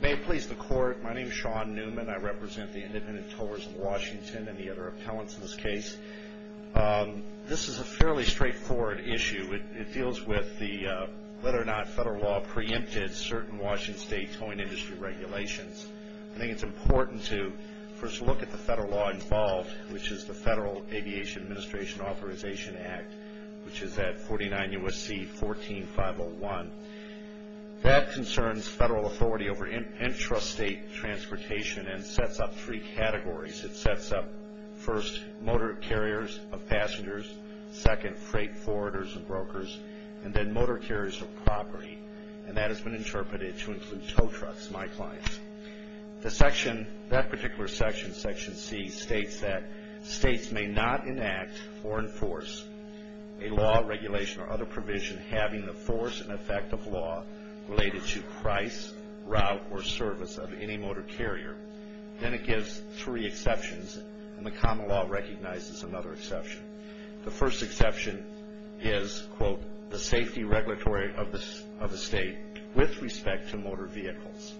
May it please the Court. My name is Sean Newman. I represent the Independent Towers of Washington and the other appellants in this case. This is a fairly straightforward issue. It deals with whether or not federal law preempted certain Washington State towing industry regulations. I think it's important to first look at the federal law involved, which is the Federal Aviation Administration Authorization Act, which is at 49 U.S.C. 14501. That concerns federal authority over intrastate transportation and sets up three categories. It sets up, first, motor carriers of passengers, second, freight forwarders and brokers, and then motor carriers of property. And that has been interpreted to include tow trucks, my clients. That particular section, Section C, states that states may not enact or enforce a law, regulation, or other provision having the force and effect of law related to price, route, or service of any motor carrier. Then it gives three exceptions, and the common law recognizes another exception. The first exception is, quote, the safety regulatory of the state with respect to motor vehicles.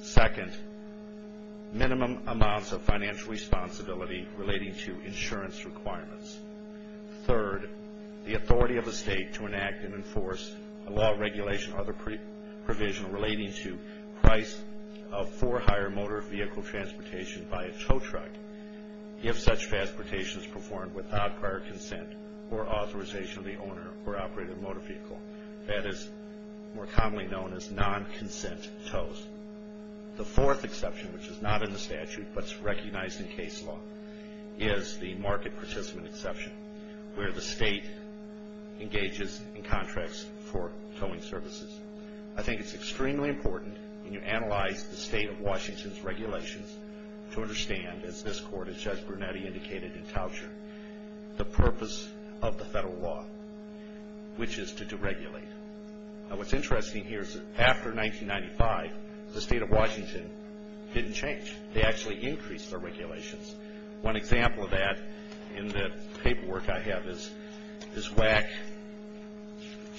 Second, minimum amounts of financial responsibility relating to insurance requirements. Third, the authority of the state to enact and enforce a law, regulation, or other provision relating to price of for hire motor vehicle transportation by a tow truck, if such transportation is performed without prior consent or authorization of the owner or operator of the motor vehicle. That is more commonly known as non-consent tows. The fourth exception, which is not in the statute but is recognized in case law, is the market participant exception, where the state engages in contracts for towing services. I think it's extremely important when you analyze the state of Washington's regulations to understand, as this court, as Judge Brunetti indicated in Towsher, the purpose of the federal law, which is to deregulate. Now, what's interesting here is that after 1995, the state of Washington didn't change. They actually increased their regulations. One example of that in the paperwork I have is WAC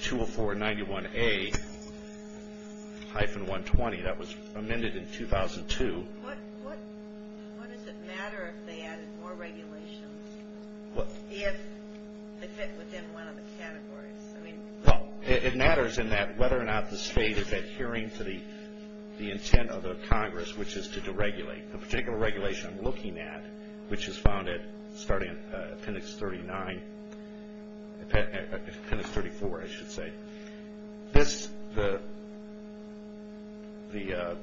20491A-120. That was amended in 2002. What does it matter if they added more regulations, if they fit within one of the categories? Well, it matters in that whether or not the state is adhering to the intent of the Congress, which is to deregulate. The particular regulation I'm looking at, which is found starting in appendix 39, appendix 34, I should say, the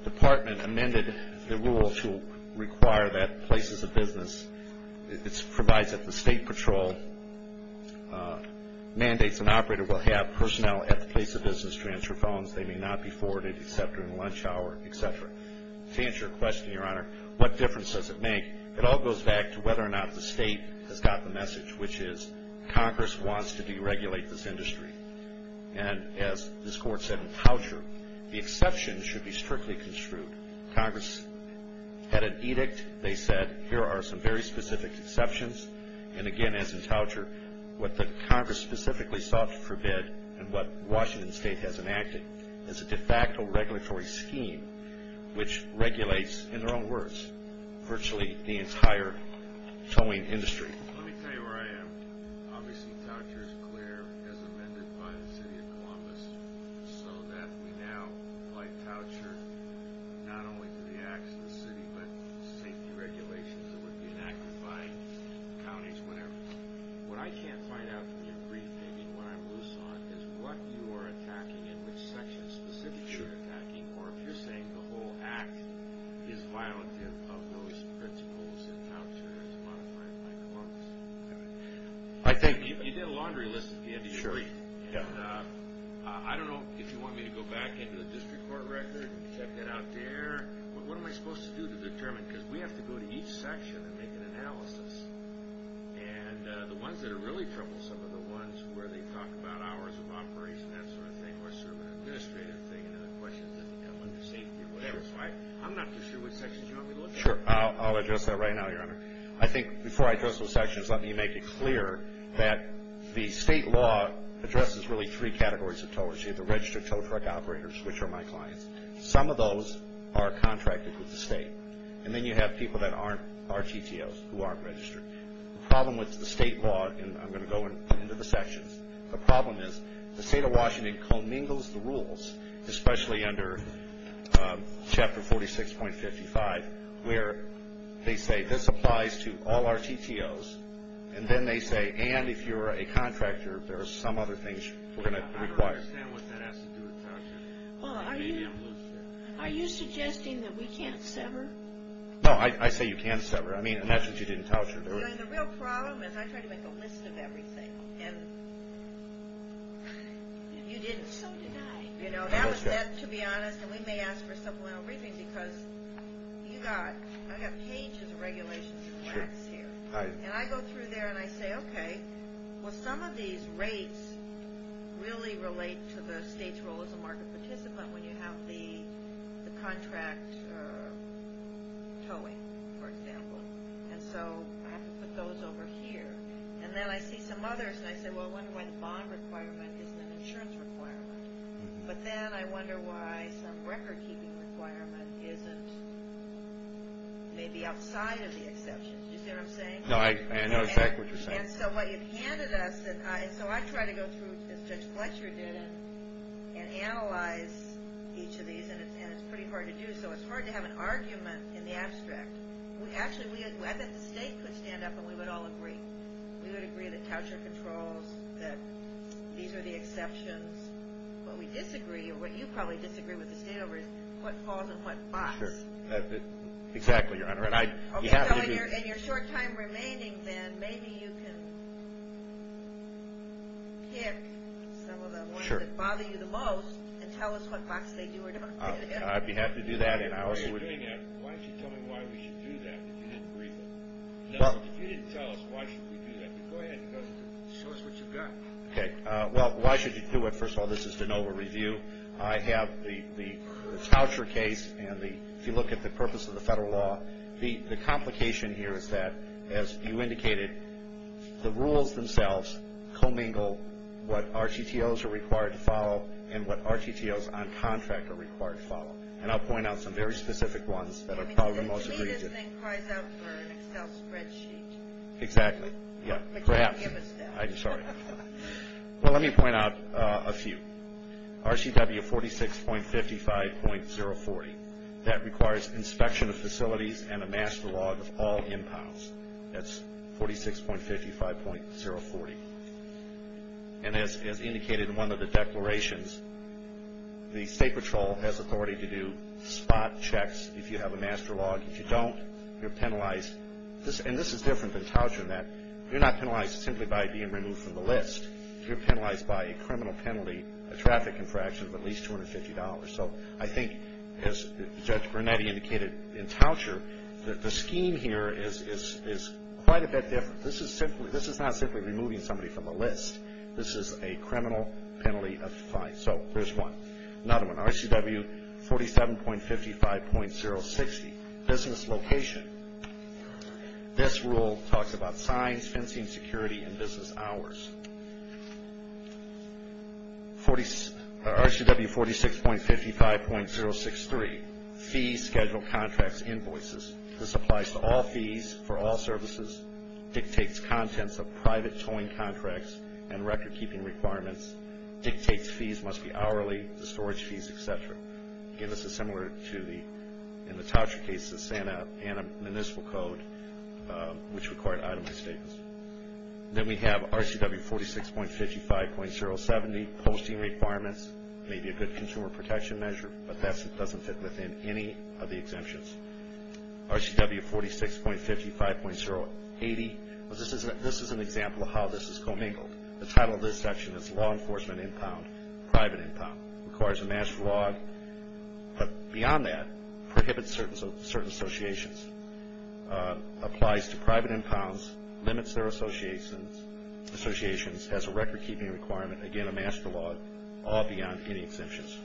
department amended the rule to require that places of business, it provides that the state patrol mandates an operator will have personnel at the place of business to answer phones. They may not be forwarded except during lunch hour, et cetera. To answer your question, Your Honor, what difference does it make? It all goes back to whether or not the state has got the message, which is Congress wants to deregulate this industry. And as this court said in Towsher, the exception should be strictly construed. Congress had an edict. They said here are some very specific exceptions. And again, as in Towsher, what the Congress specifically sought to forbid and what Washington State has enacted is a de facto regulatory scheme, which regulates, in their own words, virtually the entire towing industry. Let me tell you where I am. Obviously, Towsher is clear, as amended by the city of Columbus, so that we now apply Towsher not only to the acts of the city, but safety regulations that would be enacted by counties, whatever. What I can't find out from your brief, maybe what I'm loose on, is what you are attacking and which sections specifically you're attacking, or if you're saying the whole act is violative of those principles in Towsher as modified by Columbus. You did a laundry list at the end of your brief. And I don't know if you want me to go back into the district court record and check that out there. But what am I supposed to do to determine? Because we have to go to each section and make an analysis. And the ones that are really troublesome are the ones where they talk about hours of operation, that sort of thing, or sort of an administrative thing, and then the questions that come under safety, whatever. So I'm not too sure which sections you want me to look at. Sure. I'll address that right now, Your Honor. I think before I address those sections, let me make it clear that the state law addresses really three categories of towers. You have the registered tow truck operators, which are my clients. Some of those are contracted with the state. And then you have people that aren't RTTOs who aren't registered. The problem with the state law, and I'm going to go into the sections, the problem is the state of Washington commingles the rules, especially under Chapter 46.55, where they say this applies to all RTTOs, and then they say, and if you're a contractor, there are some other things we're going to require. I don't understand what that has to do with Towsher. Are you suggesting that we can't sever? No, I say you can sever, I mean, unless you didn't Towsher. The real problem is I try to make a list of everything, and you didn't. So did I. You know, that was that, to be honest, and we may ask for a supplemental briefing, because you got, I got pages of regulations and facts here. And I go through there, and I say, okay, well, some of these rates really relate to the state's role as a marketplace. You're a participant when you have the contract towing, for example. And so I have to put those over here. And then I see some others, and I say, well, I wonder why the bond requirement isn't an insurance requirement. But then I wonder why some recordkeeping requirement isn't maybe outside of the exceptions. You see what I'm saying? No, I know exactly what you're saying. And so what you've handed us, and so I try to go through, as Judge Fletcher did, and analyze each of these, and it's pretty hard to do, so it's hard to have an argument in the abstract. Actually, I bet the state could stand up, and we would all agree. We would agree that Towsher controls, that these are the exceptions. What we disagree, or what you probably disagree with the state over is what falls in what box. Sure. Exactly, Your Honor. Okay, so in your short time remaining then, maybe you can pick some of the ones that bother you the most and tell us what box they do or don't do. I'd be happy to do that. Why don't you tell me why we should do that, if you didn't agree with it? If you didn't tell us, why should we do that? Go ahead and show us what you've got. Okay. Well, why should you do it? First of all, this is de novo review. I have the Towsher case, and if you look at the purpose of the federal law, the complication here is that, as you indicated, the rules themselves commingle what RTTOs are required to follow and what RTTOs on contract are required to follow. And I'll point out some very specific ones that are probably the most agreed to. I mean, since he doesn't inquire for an Excel spreadsheet. Exactly. Yeah, perhaps. He can't give us that. I'm sorry. Well, let me point out a few. RCW 46.55.040. That requires inspection of facilities and a master log of all impounds. That's 46.55.040. And as indicated in one of the declarations, the state patrol has authority to do spot checks if you have a master log. If you don't, you're penalized. And this is different than Towsher in that you're not penalized simply by being removed from the list. You're penalized by a criminal penalty, a traffic infraction of at least $250. So I think, as Judge Granetti indicated in Towsher, that the scheme here is quite a bit different. This is not simply removing somebody from the list. This is a criminal penalty of fine. So there's one. Another one, RCW 47.55.060, business location. This rule talks about signs, fencing, security, and business hours. RCW 46.55.063, fees, schedule, contracts, invoices. This applies to all fees for all services, dictates contents of private towing contracts and record-keeping requirements, dictates fees must be hourly, the storage fees, et cetera. Again, this is similar to, in the Towsher case, the Santa Ana Municipal Code, which required itemized statements. Then we have RCW 46.55.070, posting requirements. It may be a good consumer protection measure, but that doesn't fit within any of the exemptions. RCW 46.55.080, this is an example of how this is commingled. The title of this section is law enforcement impound, private impound. Requires a master log, but beyond that, prohibits certain associations. Applies to private impounds, limits their associations, has a record-keeping requirement. Again, a master log, all beyond any exemptions.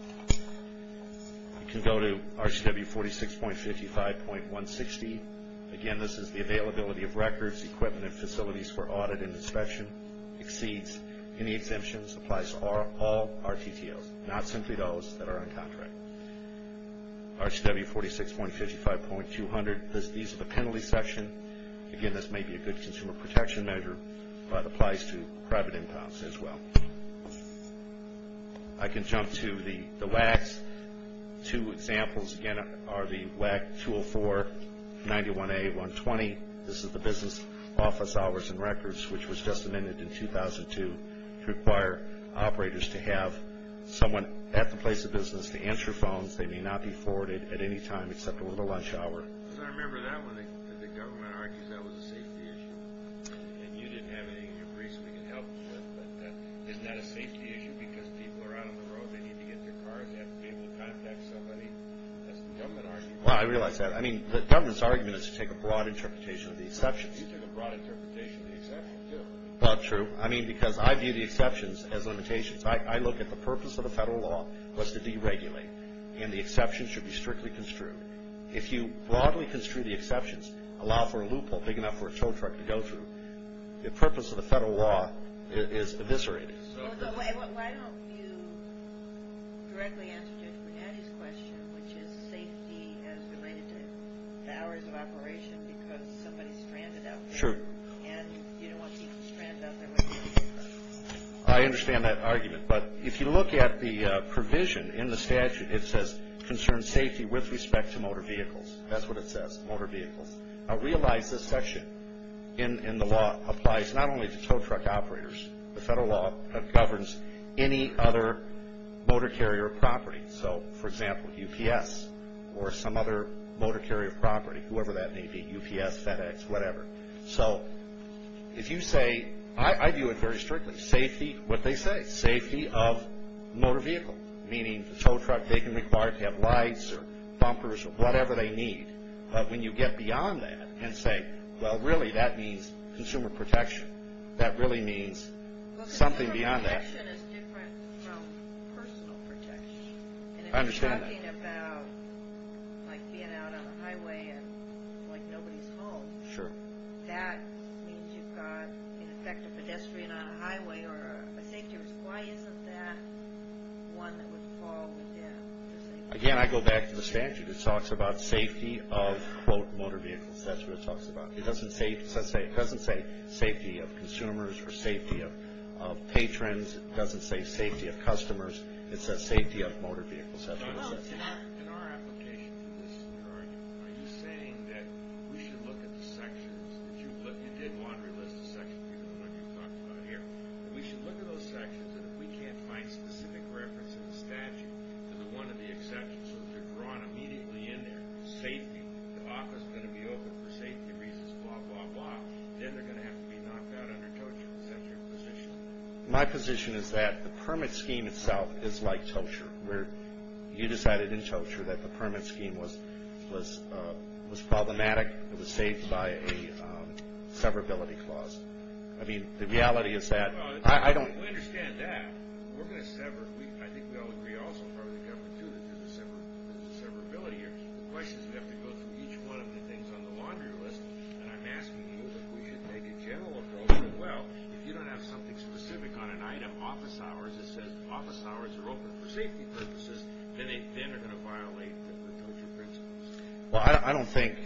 We can go to RCW 46.55.160. Again, this is the availability of records, equipment, and facilities for audit and inspection. Exceeds any exemptions. Applies to all RTTOs, not simply those that are on contract. RCW 46.55.200, these are the penalties section. Again, this may be a good consumer protection measure, but applies to private impounds as well. I can jump to the WACs. Two examples, again, are the WAC 204-91A-120. This is the business office hours and records, which was just amended in 2002. Require operators to have someone at the place of business to answer phones. They may not be forwarded at any time except over the lunch hour. I remember that one. The government argues that was a safety issue. And you didn't have anything in your briefs we could help you with, but that is not a safety issue because people are out on the road. They need to get their cars. They have to be able to contact somebody. That's the government argument. Well, I realize that. I mean, the government's argument is to take a broad interpretation of the exceptions. You take a broad interpretation of the exceptions, too. Well, it's true. I mean, because I view the exceptions as limitations. I look at the purpose of the federal law was to deregulate, and the exceptions should be strictly construed. If you broadly construe the exceptions, allow for a loophole big enough for a tow truck to go through, the purpose of the federal law is eviscerated. Why don't you directly answer Judge Bernatti's question, which is safety as related to the hours of operation because somebody stranded out there. Sure. And you don't want people stranded out there with you. I understand that argument, but if you look at the provision in the statute, it says concern safety with respect to motor vehicles. That's what it says, motor vehicles. I realize this section in the law applies not only to tow truck operators. The federal law governs any other motor carrier property. So, for example, UPS or some other motor carrier property, whoever that may be, UPS, FedEx, whatever. So if you say, I view it very strictly, safety, what they say, safety of motor vehicles, meaning the tow truck, they can require it to have lights or bumpers or whatever they need. When you get beyond that and say, well, really, that means consumer protection. That really means something beyond that. Consumer protection is different from personal protection. I understand that. And if you're talking about like being out on the highway and like nobody's home. Sure. That means you've got, in effect, a pedestrian on a highway or a safety risk. Why isn't that one that would fall within? Again, I go back to the statute. It talks about safety of, quote, motor vehicles. That's what it talks about. It doesn't say safety of consumers or safety of patrons. It doesn't say safety of customers. It says safety of motor vehicles. In our application for this new argument, are you saying that we should look at the sections, that you did want to enlist a section because of what you talked about here, that we should look at those sections and if we can't find specific reference in the statute to the one of the exceptions so that they're drawn immediately in there, safety, the office is going to be open for safety reasons, blah, blah, blah. Then they're going to have to be knocked out under tow truck exemption position. My position is that the permit scheme itself is like tow truck. You decided in tow truck that the permit scheme was problematic. It was saved by a severability clause. I mean, the reality is that I don't. We understand that. We're going to sever. I think we all agree also, probably the government too, that there's a severability here. The question is we have to go through each one of the things on the laundry list, and I'm asking you if we should make a general approach. Well, if you don't have something specific on an item, office hours, it says office hours are open for safety purposes, then they're going to violate the tow truck principles. Well, I don't think,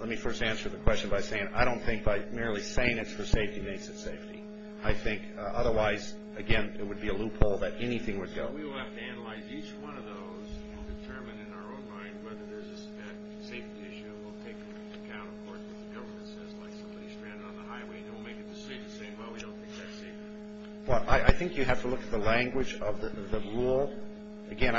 let me first answer the question by saying, I don't think by merely saying it's for safety means it's safety. I think otherwise, again, it would be a loophole that anything would go. We will have to analyze each one of those and determine in our own mind whether there's a safety issue. We'll take into account, of course, what the government says, like somebody stranded on the highway, and then we'll make a decision saying, well, we don't think that's safe. Well, I think you have to look at the language of the rule. Again,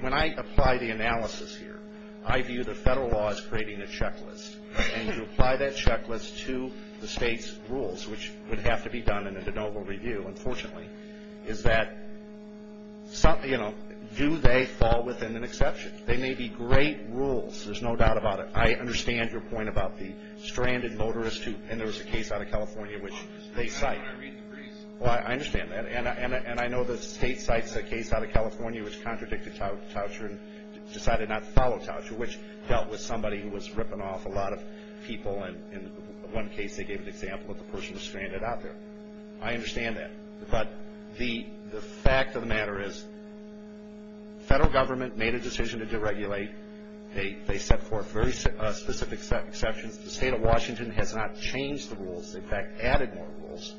when I apply the analysis here, I view the federal law as creating a checklist, and to apply that checklist to the state's rules, which would have to be done in a de novo review, unfortunately, is that do they fall within an exception? They may be great rules. There's no doubt about it. I understand your point about the stranded motorist who, and there was a case out of California which they cite. Well, I understand that, and I know the state cites a case out of California which contradicted Toucher and decided not to follow Toucher, which dealt with somebody who was ripping off a lot of people, and in one case they gave an example of the person who was stranded out there. I understand that. But the fact of the matter is the federal government made a decision to deregulate. They set forth very specific exceptions. The state of Washington has not changed the rules. They, in fact, added more rules.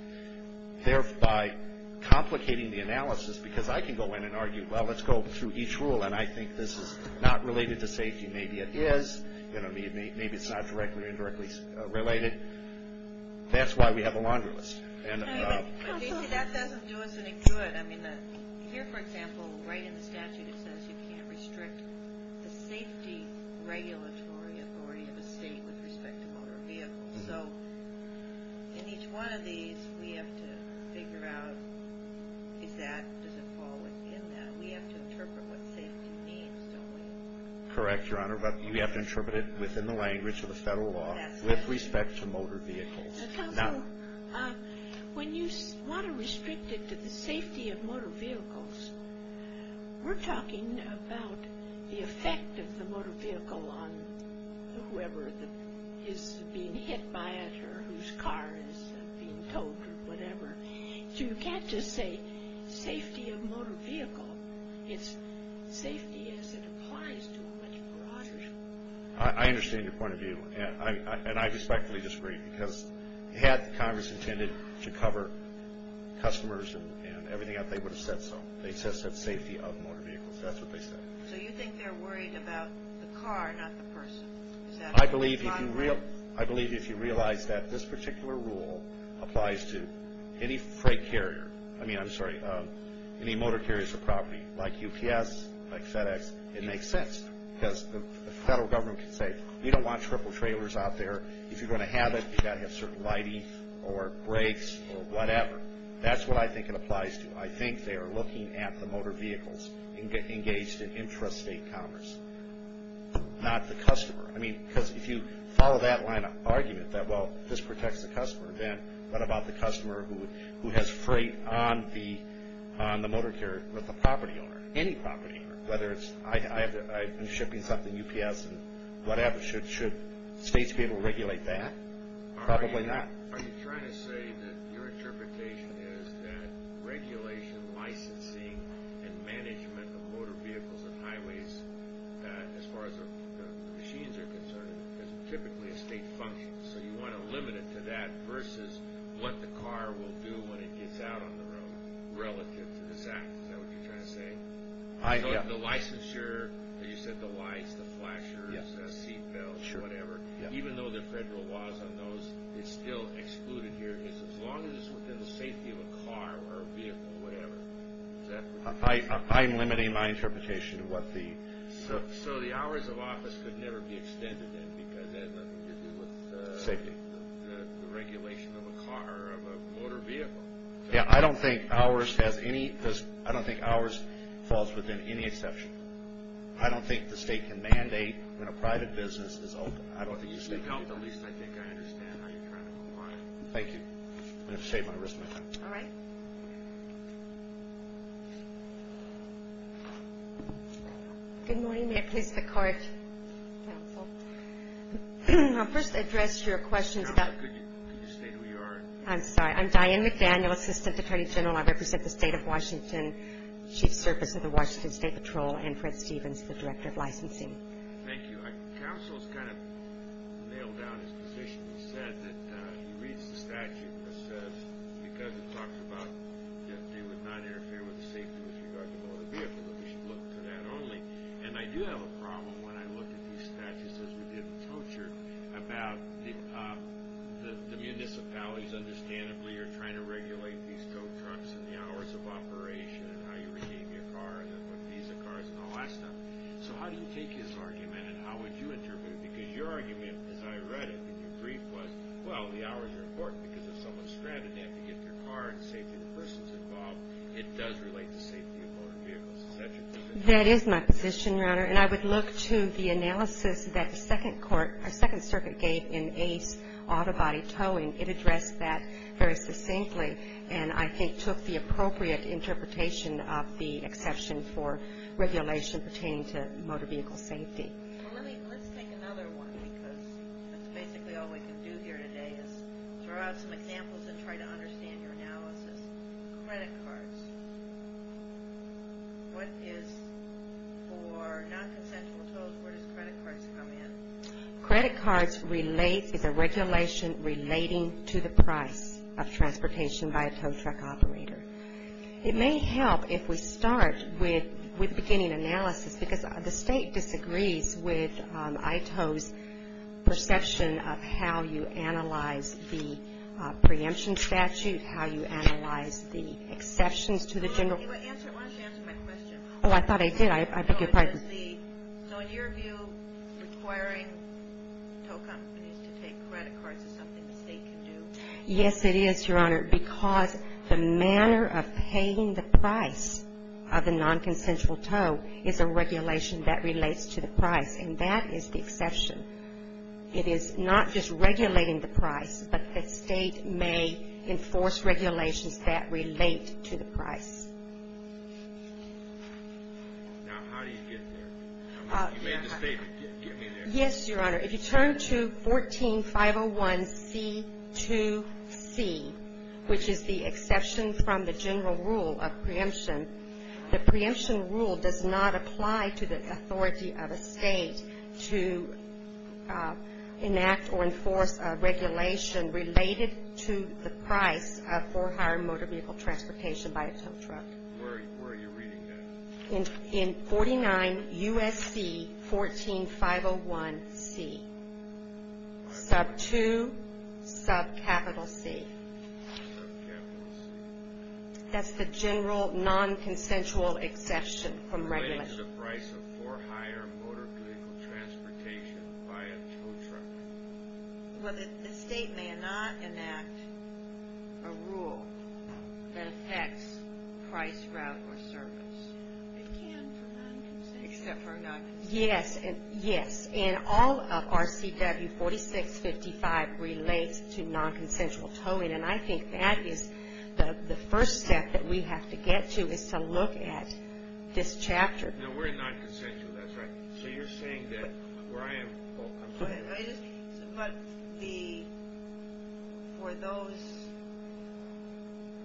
By complicating the analysis, because I can go in and argue, well, let's go through each rule, and I think this is not related to safety. Maybe it is. Maybe it's not directly or indirectly related. That's why we have a laundry list. That doesn't do us any good. Here, for example, right in the statute, it says you can't restrict the safety regulatory authority of a state with respect to motor vehicles. So in each one of these, we have to figure out is that, does it fall within that. We have to interpret what safety means, don't we? Correct, Your Honor, but we have to interpret it within the language of the federal law with respect to motor vehicles. When you want to restrict it to the safety of motor vehicles, we're talking about the effect of the motor vehicle on whoever is being hit by it or whose car is being towed or whatever. So you can't just say safety of motor vehicle. It's safety as it applies to a much broader. I understand your point of view, and I respectfully disagree because had Congress intended to cover customers and everything else, they would have said so. They just said safety of motor vehicles. That's what they said. So you think they're worried about the car, not the person. I believe if you realize that this particular rule applies to any freight carrier, I mean, I'm sorry, any motor carriers or property like UPS, like FedEx, it makes sense because the federal government can say, you don't want triple trailers out there. If you're going to have it, you've got to have certain lighting or brakes or whatever. That's what I think it applies to. I think they are looking at the motor vehicles engaged in intrastate commerce, not the customer. I mean, because if you follow that line of argument that, well, this protects the customer, then what about the customer who has freight on the motor carrier with the property owner, any property owner, whether it's I'm shipping something UPS and whatever, should states be able to regulate that? Probably not. Are you trying to say that your interpretation is that regulation, licensing, and management of motor vehicles and highways as far as the machines are concerned is typically a state function, so you want to limit it to that versus what the car will do when it gets out on the road relative to this act? Is that what you're trying to say? The licensure, as you said, the lights, the flashers, the seatbelts, whatever, even though there are federal laws on those, it's still excluded here as long as it's within the safety of a car or a vehicle or whatever. Is that what you're saying? I'm limiting my interpretation of what the... So the hours of office could never be extended then because that has nothing to do with... Safety. ...the regulation of a car or of a motor vehicle. Yeah, I don't think hours has any... I don't think hours falls within any exception. I don't think the state can mandate when a private business is open. At least I think I understand how you're trying to move on. Thank you. I'm going to save my wrist my time. All right. Good morning. May I please have a card, counsel? I'll first address your questions about... Could you state who you are? I'm sorry. I'm Diane McDaniel, Assistant Attorney General. I represent the State of Washington, Chief Service of the Washington State Patrol, and Fred Stevens, the Director of Licensing. Thank you. Counsel has kind of nailed down his position. He said that he reads the statute that says because it talks about that they would not interfere with the safety with regard to motor vehicle, that we should look to that only. And I do have a problem when I look at these statutes, as we did in torture, about the municipalities, understandably, are trying to regulate these tow trucks and the hours of operation and how you retain your car and what these cars and all that stuff. So how do you take his argument, and how would you interpret it? Because your argument, as I read it in your brief, was, well, the hours are important because if someone's stranded, they have to get their car and safety of the persons involved. It does relate to safety of motor vehicles, et cetera. That is my position, Your Honor. And I would look to the analysis that the Second Circuit gave in Ace Auto Body Towing. It addressed that very succinctly and I think took the appropriate interpretation of the exception for regulation pertaining to motor vehicle safety. Well, let's take another one because that's basically all we can do here today Credit cards. What is for non-consensual tows, where does credit cards come in? Credit cards is a regulation relating to the price of transportation by a tow truck operator. It may help if we start with beginning analysis because the State disagrees with ITO's perception of how you analyze the preemption statute, how you analyze the exceptions to the general. Why don't you answer my question? Oh, I thought I did. I beg your pardon. So in your view, requiring tow companies to take credit cards is something the State can do? Yes, it is, Your Honor, because the manner of paying the price of a non-consensual tow is a regulation that relates to the price, and that is the exception. It is not just regulating the price, but the State may enforce regulations that relate to the price. Now, how do you get there? You may just say, but get me there. Yes, Your Honor. If you turn to 14-501C2C, which is the exception from the general rule of preemption, the preemption rule does not apply to the authority of a State to enact or enforce a regulation related to the price for hire motor vehicle transportation by a tow truck. Where are you reading that? In 49 U.S.C. 14-501C, sub 2, sub capital C. Sub capital C. That's the general non-consensual exception from regulation. Related to the price of for hire motor vehicle transportation by a tow truck. Well, the State may not enact a rule that affects price, route, or service. It can for non-consensual. Except for non-consensual. Yes, and all of RCW 4655 relates to non-consensual towing, and I think that is the first step that we have to get to is to look at this chapter. No, we're in non-consensual. That's right. So you're saying that where I am. But for those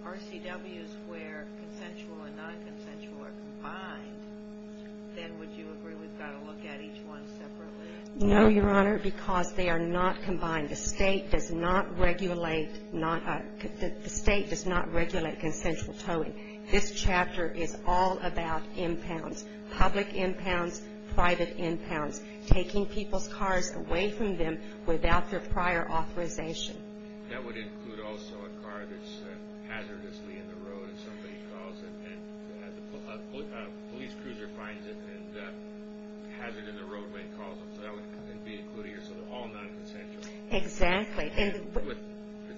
RCWs where consensual and non-consensual are combined, then would you agree we've got to look at each one separately? No, Your Honor, because they are not combined. Again, the State does not regulate consensual towing. This chapter is all about impounds, public impounds, private impounds, taking people's cars away from them without their prior authorization. That would include also a car that's hazardously in the road if somebody calls it, and a police cruiser finds it and has it in the roadway and calls it. So that would be included here. So they're all non-consensual. Exactly. With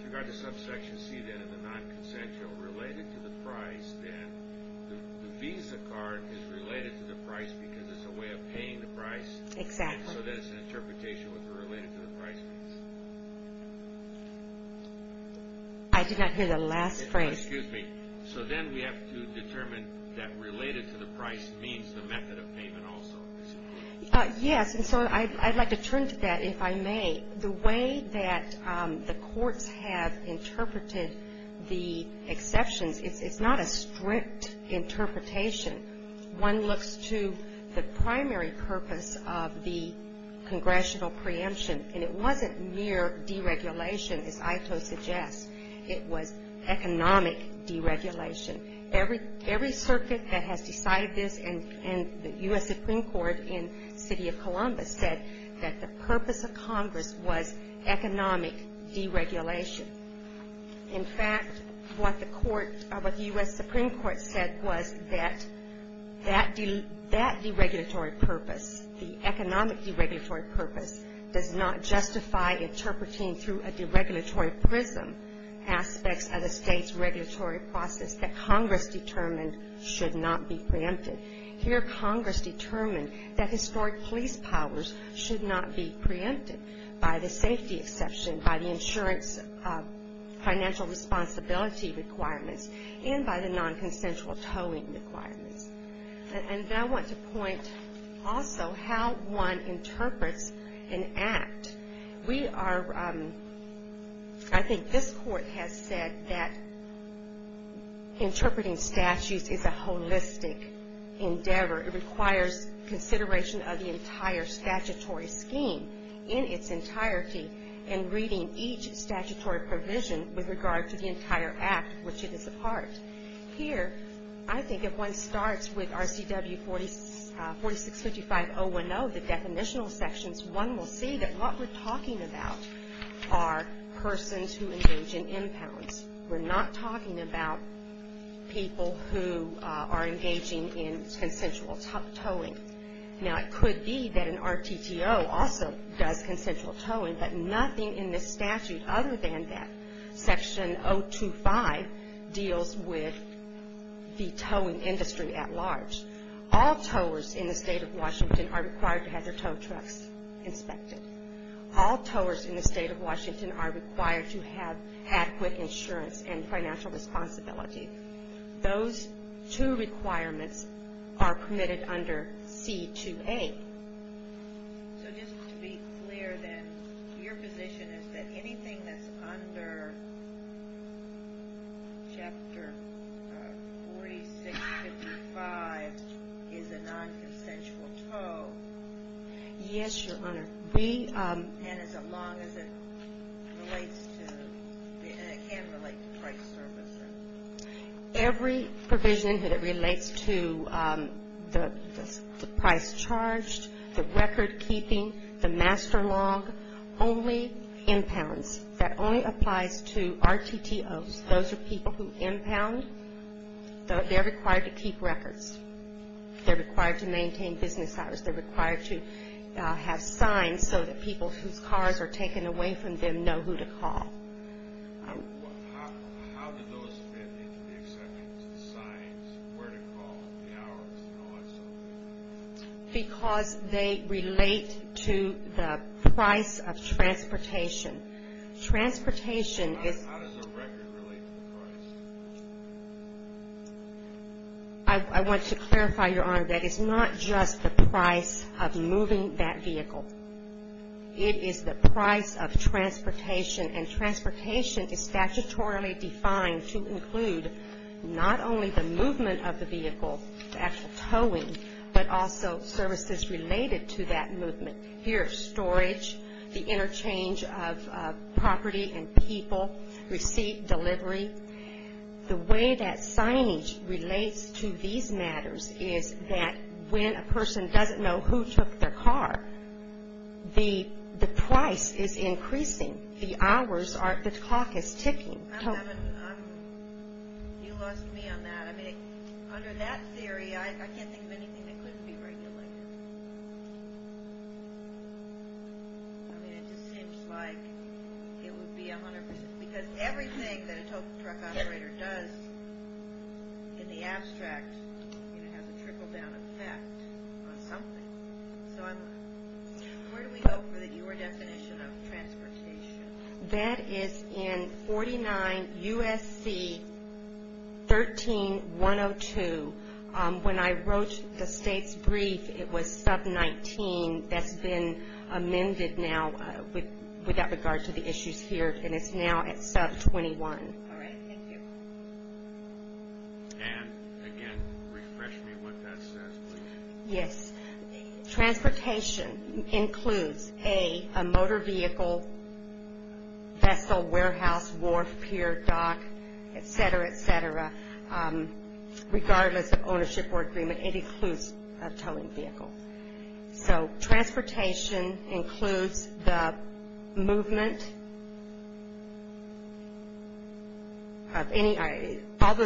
regard to subsection C, then, and the non-consensual related to the price, then the Visa card is related to the price because it's a way of paying the price. Exactly. So then it's an interpretation related to the price. I did not hear the last phrase. Excuse me. So then we have to determine that related to the price means the method of payment also. Yes, and so I'd like to turn to that, if I may. The way that the courts have interpreted the exceptions, it's not a strict interpretation. One looks to the primary purpose of the congressional preemption, and it wasn't mere deregulation, as Ito suggests. It was economic deregulation. Every circuit that has decided this, and the U.S. Supreme Court in the city of Columbus said that the purpose of Congress was economic deregulation. In fact, what the U.S. Supreme Court said was that that deregulatory purpose, the economic deregulatory purpose does not justify interpreting through a deregulatory prism aspects of the state's regulatory process that Congress determined should not be preempted. Here, Congress determined that historic police powers should not be preempted by the safety exception, by the insurance financial responsibility requirements, and by the non-consensual towing requirements. And then I want to point also how one interprets an act. We are, I think this Court has said that interpreting statutes is a holistic endeavor. It requires consideration of the entire statutory scheme in its entirety and reading each statutory provision with regard to the entire act, which it is a part. Here, I think if one starts with RCW 4655.010, the definitional sections, one will see that what we're talking about are persons who engage in impounds. We're not talking about people who are engaging in consensual towing. Now, it could be that an RTTO also does consensual towing, but nothing in this statute other than that, Section 025 deals with the towing industry at large. All towers in the state of Washington are required to have their tow trucks inspected. All towers in the state of Washington are required to have adequate insurance and financial responsibility. Those two requirements are permitted under C2A. So just to be clear then, your position is that anything that's under Chapter 4655 is a nonconsensual tow? Yes, Your Honor. And as long as it relates to, and it can relate to price servicing? Every provision that relates to the price charged, the record keeping, the master log, only impounds. That only applies to RTTOs. Those are people who impound. They're required to keep records. They're required to maintain business hours. They're required to have signs so that people whose cars are taken away from them know who to call. How do those fit into the exceptions, the signs, where to call, the hours, and all that stuff? Because they relate to the price of transportation. Transportation is... How does a record relate to price? I want to clarify, Your Honor, that it's not just the price of moving that vehicle. It is the price of transportation, and transportation is statutorily defined to include not only the movement of the vehicle, the actual towing, but also services related to that movement. Here, storage, the interchange of property and people, receipt, delivery. The way that signage relates to these matters is that when a person doesn't know who took their car, the price is increasing. The hours are... The clock is ticking. You lost me on that. I mean, under that theory, I can't think of anything that couldn't be regulated. I mean, it just seems like it would be 100 percent. Because everything that a tow truck operator does in the abstract has a trickle-down effect on something. So where do we go for your definition of transportation? That is in 49 U.S.C. 13-102. When I wrote the state's brief, it was sub-19. That's been amended now with that regard to the issues here, and it's now at sub-21. All right. Thank you. And, again, refresh me what that says, please. Yes. Transportation includes a motor vehicle, vessel, warehouse, wharf, pier, dock, et cetera, et cetera. Regardless of ownership or agreement, it includes a towing vehicle. So transportation includes the movement of any... I'll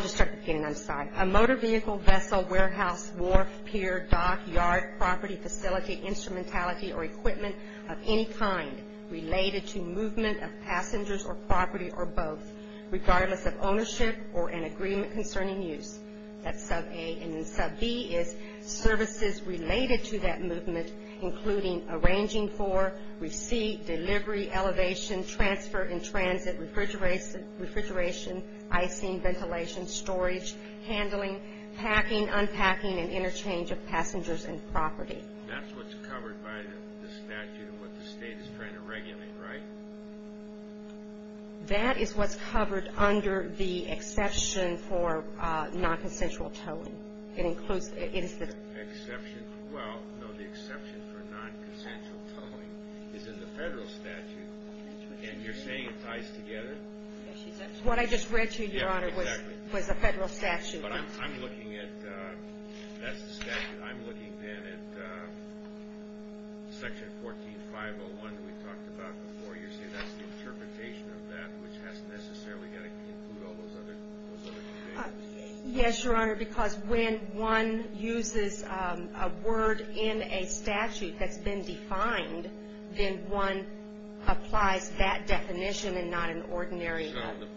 just start again. I'm sorry. A motor vehicle, vessel, warehouse, wharf, pier, dock, yard, property, facility, instrumentality, or equipment of any kind related to movement of passengers or property or both, regardless of ownership or an agreement concerning use. That's sub-A. And then sub-B is services related to that movement, including arranging for receipt, delivery, elevation, transfer in transit, refrigeration, icing, ventilation, storage, handling, packing, unpacking, and interchange of passengers and property. That's what's covered by the statute and what the state is trying to regulate, right? That is what's covered under the exception for non-consensual towing. It includes... Exception? Well, no, the exception for non-consensual towing is in the federal statute. And you're saying it ties together? What I just read to you, Your Honor, was the federal statute. But I'm looking at... That's the statute. I'm looking, then, at Section 14.501 that we talked about before. You're saying that's the interpretation of that, which hasn't necessarily got to include all those other things. Yes, Your Honor, because when one uses a word in a statute that's been defined, then one applies that definition and not an ordinary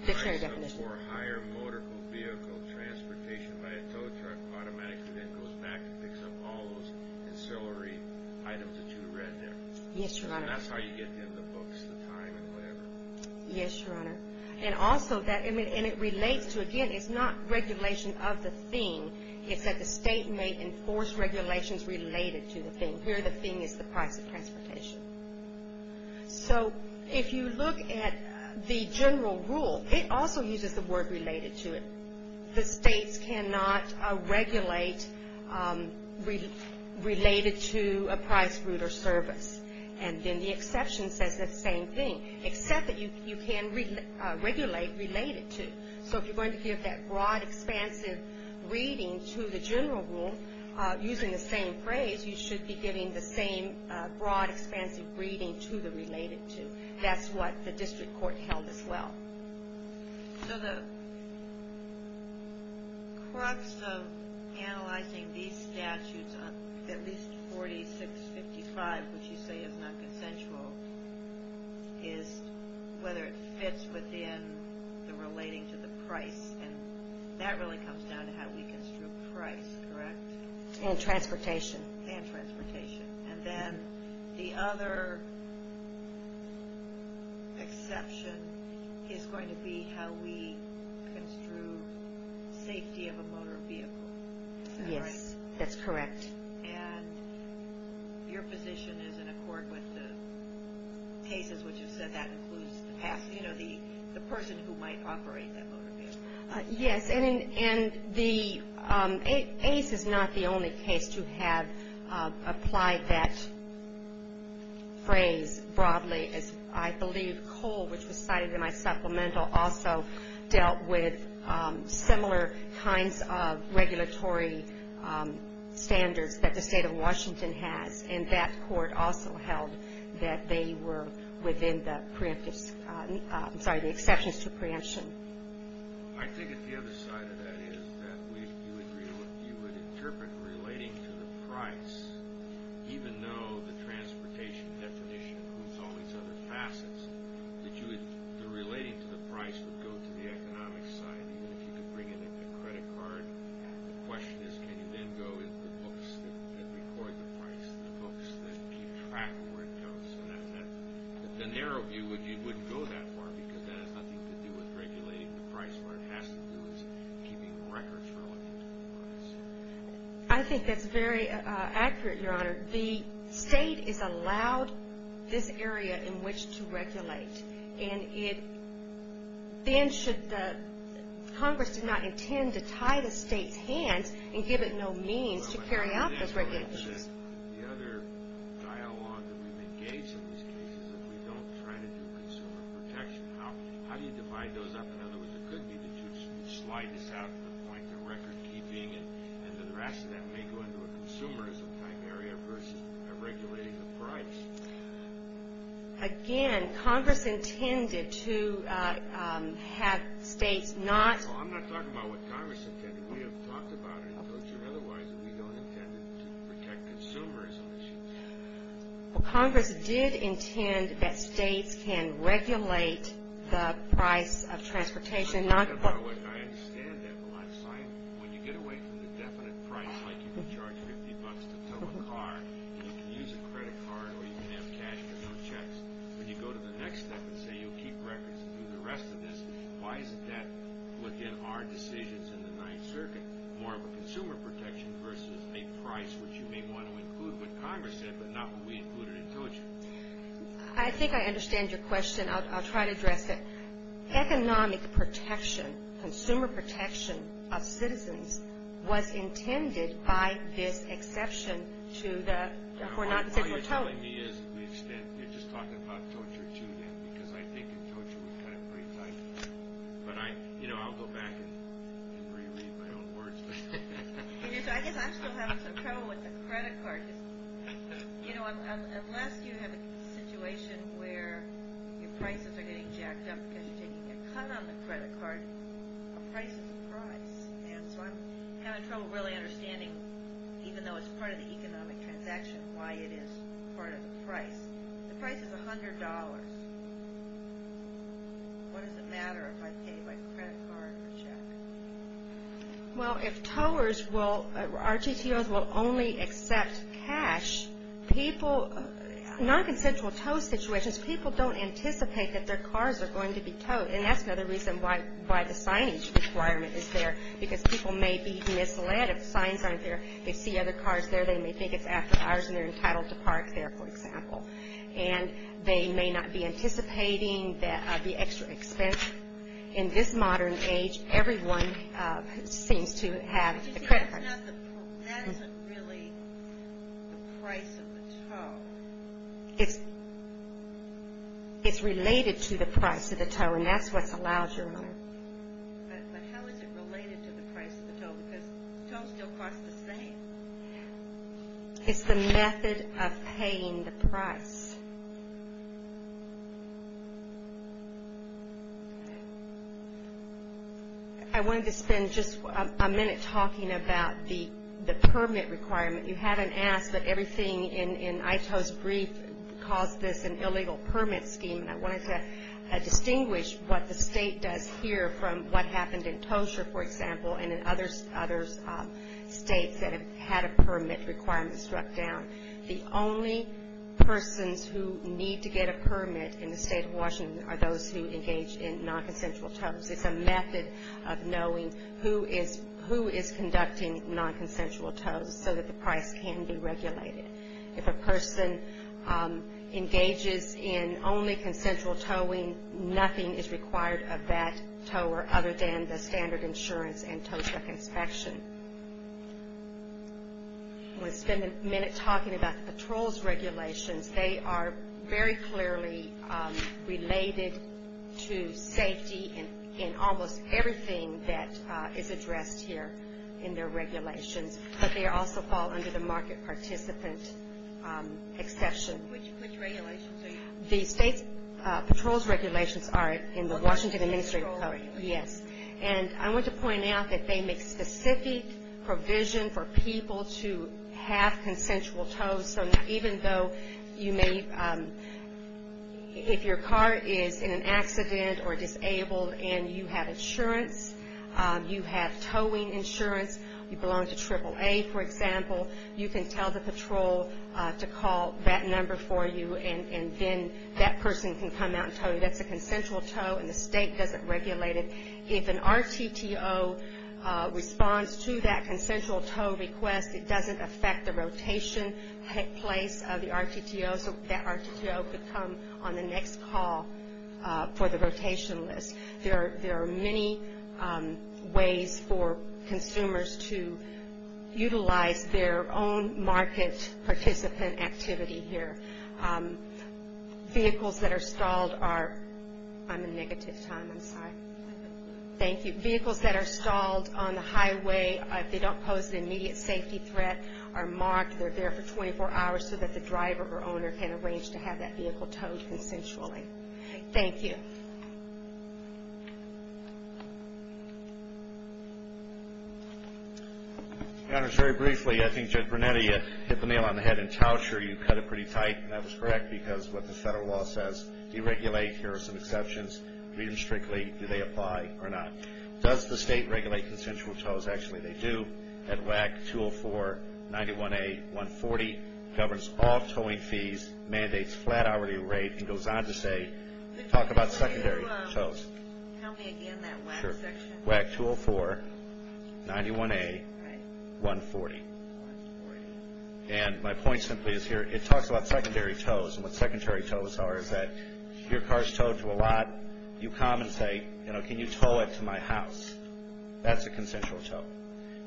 dictionary definition. For a higher motor vehicle, transportation by a tow truck automatically then goes back and picks up all those ancillary items that you read there. Yes, Your Honor. And that's how you get in the books, the time, and whatever. Yes, Your Honor. And also that, I mean, and it relates to, again, it's not regulation of the thing. It's that the state may enforce regulations related to the thing. Here, the thing is the price of transportation. So, if you look at the general rule, it also uses the word related to it. The states cannot regulate related to a price, route, or service. And then the exception says the same thing, except that you can regulate related to. So, if you're going to give that broad, expansive reading to the general rule, using the same phrase, you should be giving the same broad, expansive reading to the related to. That's what the district court held as well. So, the crux of analyzing these statutes, at least 4655, which you say is not consensual, is whether it fits within the relating to the price. And that really comes down to how we construe price, correct? And transportation. And transportation. And then the other exception is going to be how we construe safety of a motor vehicle. Yes, that's correct. And your position is in accord with the cases which have said that includes the person who might operate that motor vehicle. Yes. And the ACE is not the only case to have applied that phrase broadly. As I believe Cole, which was cited in my supplemental, also dealt with similar kinds of regulatory standards that the state of Washington has. And that court also held that they were within the exceptions to preemption. I think that the other side of that is that you would interpret relating to the price, even though the transportation definition includes all these other facets, that the relating to the price would go to the economic side, even if you could bring in a credit card. The question is can you then go into the books that record the price, the books that keep track of where it goes. The narrow view would go that far because that has nothing to do with regulating the price. What it has to do is keeping records relating to the price. I think that's very accurate, Your Honor. The state is allowed this area in which to regulate. Congress did not intend to tie the state's hands and give it no means to carry out those regulations. The other dialogue that we've engaged in these cases is if we don't try to do consumer protection, how do you divide those up? In other words, it could be that you slide this out to the point of record keeping and the rest of that may go into a consumerism type area versus regulating the price. Again, Congress intended to have states not. Well, I'm not talking about what Congress intended. We have talked about it in culture otherwise that we don't intend to protect consumers. Well, Congress did intend that states can regulate the price of transportation. I understand that, but when you get away from the definite price, it's not like you can charge 50 bucks to tow a car, and you can use a credit card, or you can have cash to fill checks. When you go to the next step and say you'll keep records and do the rest of this, why is it that within our decisions in the Ninth Circuit, more of a consumer protection versus a price which you may want to include what Congress did but not what we included in culture? I think I understand your question. I'll try to address it. Economic protection, consumer protection of citizens was intended by this exception to the... All you're telling me is we've spent... You're just talking about torture, too, because I think that torture was kind of pretty tight. But I'll go back and reread my own words. I guess I'm still having some trouble with the credit card. You know, unless you have a situation where your prices are getting jacked up because you're taking a cut on the credit card, a price is a price. And so I'm having trouble really understanding, even though it's part of the economic transaction, why it is part of the price. The price is $100. What does it matter if I pay by credit card or check? Well, if towers will... RTTOs will only accept cash, people... Non-consensual tow situations, people don't anticipate that their cars are going to be towed. And that's another reason why the signage requirement is there, because people may be misled if signs aren't there. They see other cars there. They may think it's after hours and they're entitled to park there, for example. And they may not be anticipating the extra expense. In this modern age, everyone seems to have the credit card. That isn't really the price of the tow. It's related to the price of the tow, and that's what's allowed, Your Honor. But how is it related to the price of the tow? Because tows still cost the same. It's the method of paying the price. I wanted to spend just a minute talking about the permit requirement. You haven't asked, but everything in ITO's brief calls this an illegal permit scheme, and I wanted to distinguish what the state does here from what happened in Tosha, for example, and in other states that have had a permit requirement struck down. The only persons who need to get a permit in the state of Washington are those who engage in nonconsensual tows. It's a method of knowing who is conducting nonconsensual tows so that the price can be regulated. If a person engages in only consensual towing, nothing is required of that tower other than the standard insurance and Tosha inspection. I want to spend a minute talking about the patrols regulations. They are very clearly related to safety in almost everything that is addressed here in their regulations, but they also fall under the market participant exception. Which regulations are you talking about? The patrols regulations are in the Washington Administrative Code. Yes. And I want to point out that they make specific provision for people to have consensual tows, so even though you may, if your car is in an accident or disabled and you have insurance, you have towing insurance, you belong to AAA, for example, you can tell the patrol to call that number for you and then that person can come out and tow you. That's a consensual tow and the state doesn't regulate it. If an RTTO responds to that consensual tow request, it doesn't affect the rotation place of the RTTO, so that RTTO could come on the next call for the rotation list. There are many ways for consumers to utilize their own market participant activity here. Vehicles that are stalled are – I'm in negative time, I'm sorry. Thank you. Vehicles that are stalled on the highway, if they don't pose an immediate safety threat, are marked. They're there for 24 hours so that the driver or owner can arrange to have that vehicle towed consensually. Thank you. Thank you. Your Honors, very briefly, I think Judge Brunetti hit the nail on the head. In Towsher, you cut it pretty tight and that was correct because what the federal law says, deregulate, here are some exceptions, read them strictly, do they apply or not? Does the state regulate consensual tows? Actually, they do. That WAC 204-91A-140 governs all towing fees, mandates flat hourly rate and goes on to say, talk about secondary tows. Help me again, that WAC section. WAC 204-91A-140. 140. And my point simply is here, it talks about secondary tows, and what secondary tows are is that your car is towed to a lot, you come and say, can you tow it to my house? That's a consensual tow.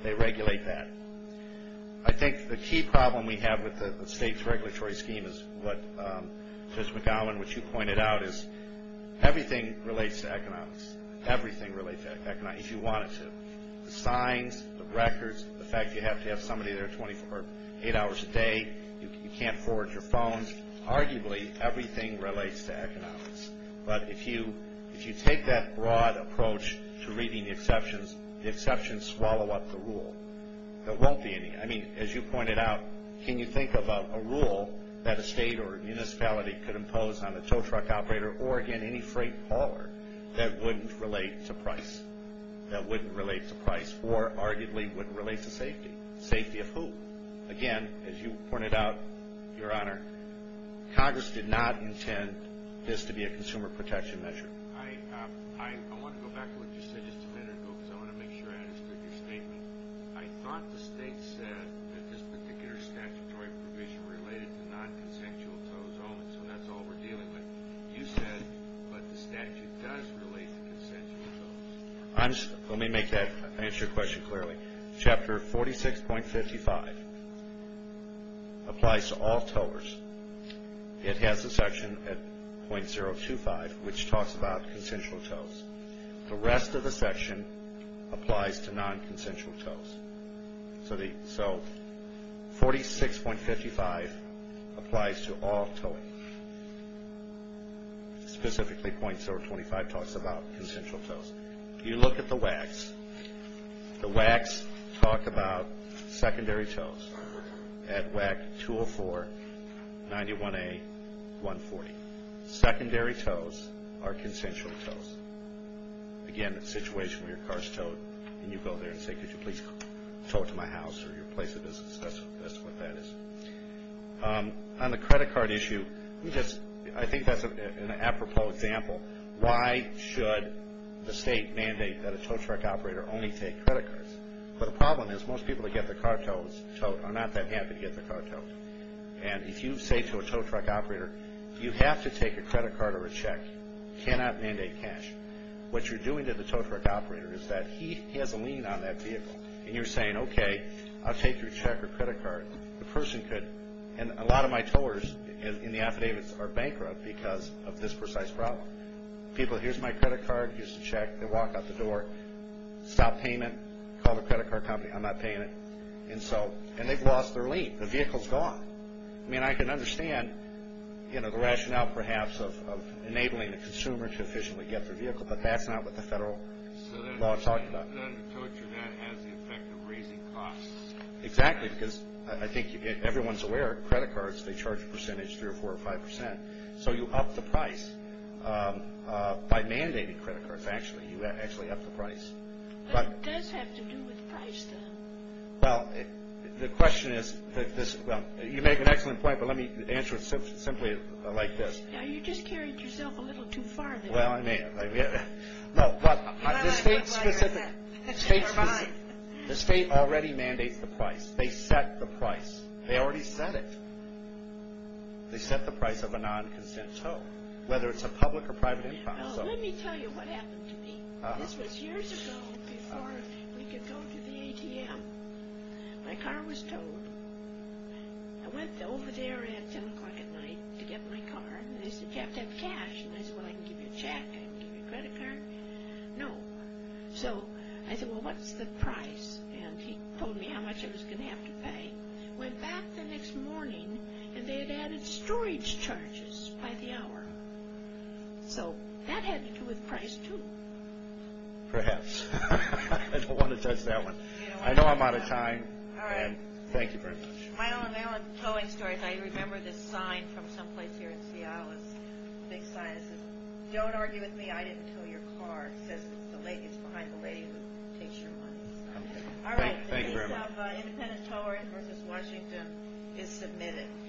They regulate that. I think the key problem we have with the state's regulatory scheme is what Judge McGowan, which you pointed out, is everything relates to economics. Everything relates to economics, if you want it to. The signs, the records, the fact you have to have somebody there eight hours a day, you can't forward your phones, arguably everything relates to economics. But if you take that broad approach to reading the exceptions, the exceptions swallow up the rule. There won't be any. I mean, as you pointed out, can you think about a rule that a state or a municipality could impose on a tow truck operator or, again, any freight hauler that wouldn't relate to price, that wouldn't relate to price, or arguably wouldn't relate to safety? Safety of who? Again, as you pointed out, Your Honor, Congress did not intend this to be a consumer protection measure. I want to go back to what you said just a minute ago because I want to make sure I understood your statement. I thought the state said that this particular statutory provision related to nonconsensual tows only, so that's all we're dealing with. You said, but the statute does relate to consensual tows. Let me make that answer your question clearly. Chapter 46.55 applies to all towers. It has a section at .025 which talks about consensual tows. The rest of the section applies to nonconsensual tows. So 46.55 applies to all towing. Specifically, .025 talks about consensual tows. If you look at the WACs, the WACs talk about secondary tows. At WAC 204, 91A, 140. Secondary tows are consensual tows. Again, a situation where your car is towed and you go there and say, could you please tow it to my house or your place of business? That's what that is. On the credit card issue, I think that's an apropos example. Why should the state mandate that a tow truck operator only take credit cards? Well, the problem is most people that get their car towed are not that happy to get their car towed. And if you say to a tow truck operator, you have to take a credit card or a check, cannot mandate cash, what you're doing to the tow truck operator is that he has a lien on that vehicle, and you're saying, okay, I'll take your check or credit card. The person could, and a lot of my towers in the affidavits are bankrupt because of this precise problem. People, here's my credit card, here's the check. They walk out the door, stop payment, call the credit card company, I'm not paying it. And they've lost their lien. The vehicle's gone. I mean, I can understand the rationale, perhaps, of enabling the consumer to efficiently get their vehicle, but that's not what the federal law is talking about. So the tow truck has the effect of raising costs. Exactly, because I think everyone's aware credit cards, they charge a percentage, 3 or 4 or 5 percent. So you up the price. By mandating credit cards, actually, you actually up the price. But it does have to do with price, though. Well, the question is, you make an excellent point, but let me answer it simply like this. Now, you just carried yourself a little too far there. Well, I may have. No, but the state's specific. The state already mandates the price. They set the price. They already set it. They set the price of a non-consensual, whether it's a public or private income. Well, let me tell you what happened to me. This was years ago before we could go to the ATM. My car was towed. I went over there at 10 o'clock at night to get my car, and they said, you have to have cash. And I said, well, I can give you a check. I can give you a credit card. No. So I said, well, what's the price? And he told me how much I was going to have to pay. Went back the next morning, and they had added storage charges by the hour. So that had to do with price, too. Perhaps. I don't want to touch that one. I know I'm out of time, and thank you very much. My own towing story. I remember this sign from someplace here in Seattle, this big sign that says, don't argue with me, I didn't tow your car. It says it's behind the lady who takes your money. All right. Thank you very much. The case of Independent Towing v. Washington is submitted.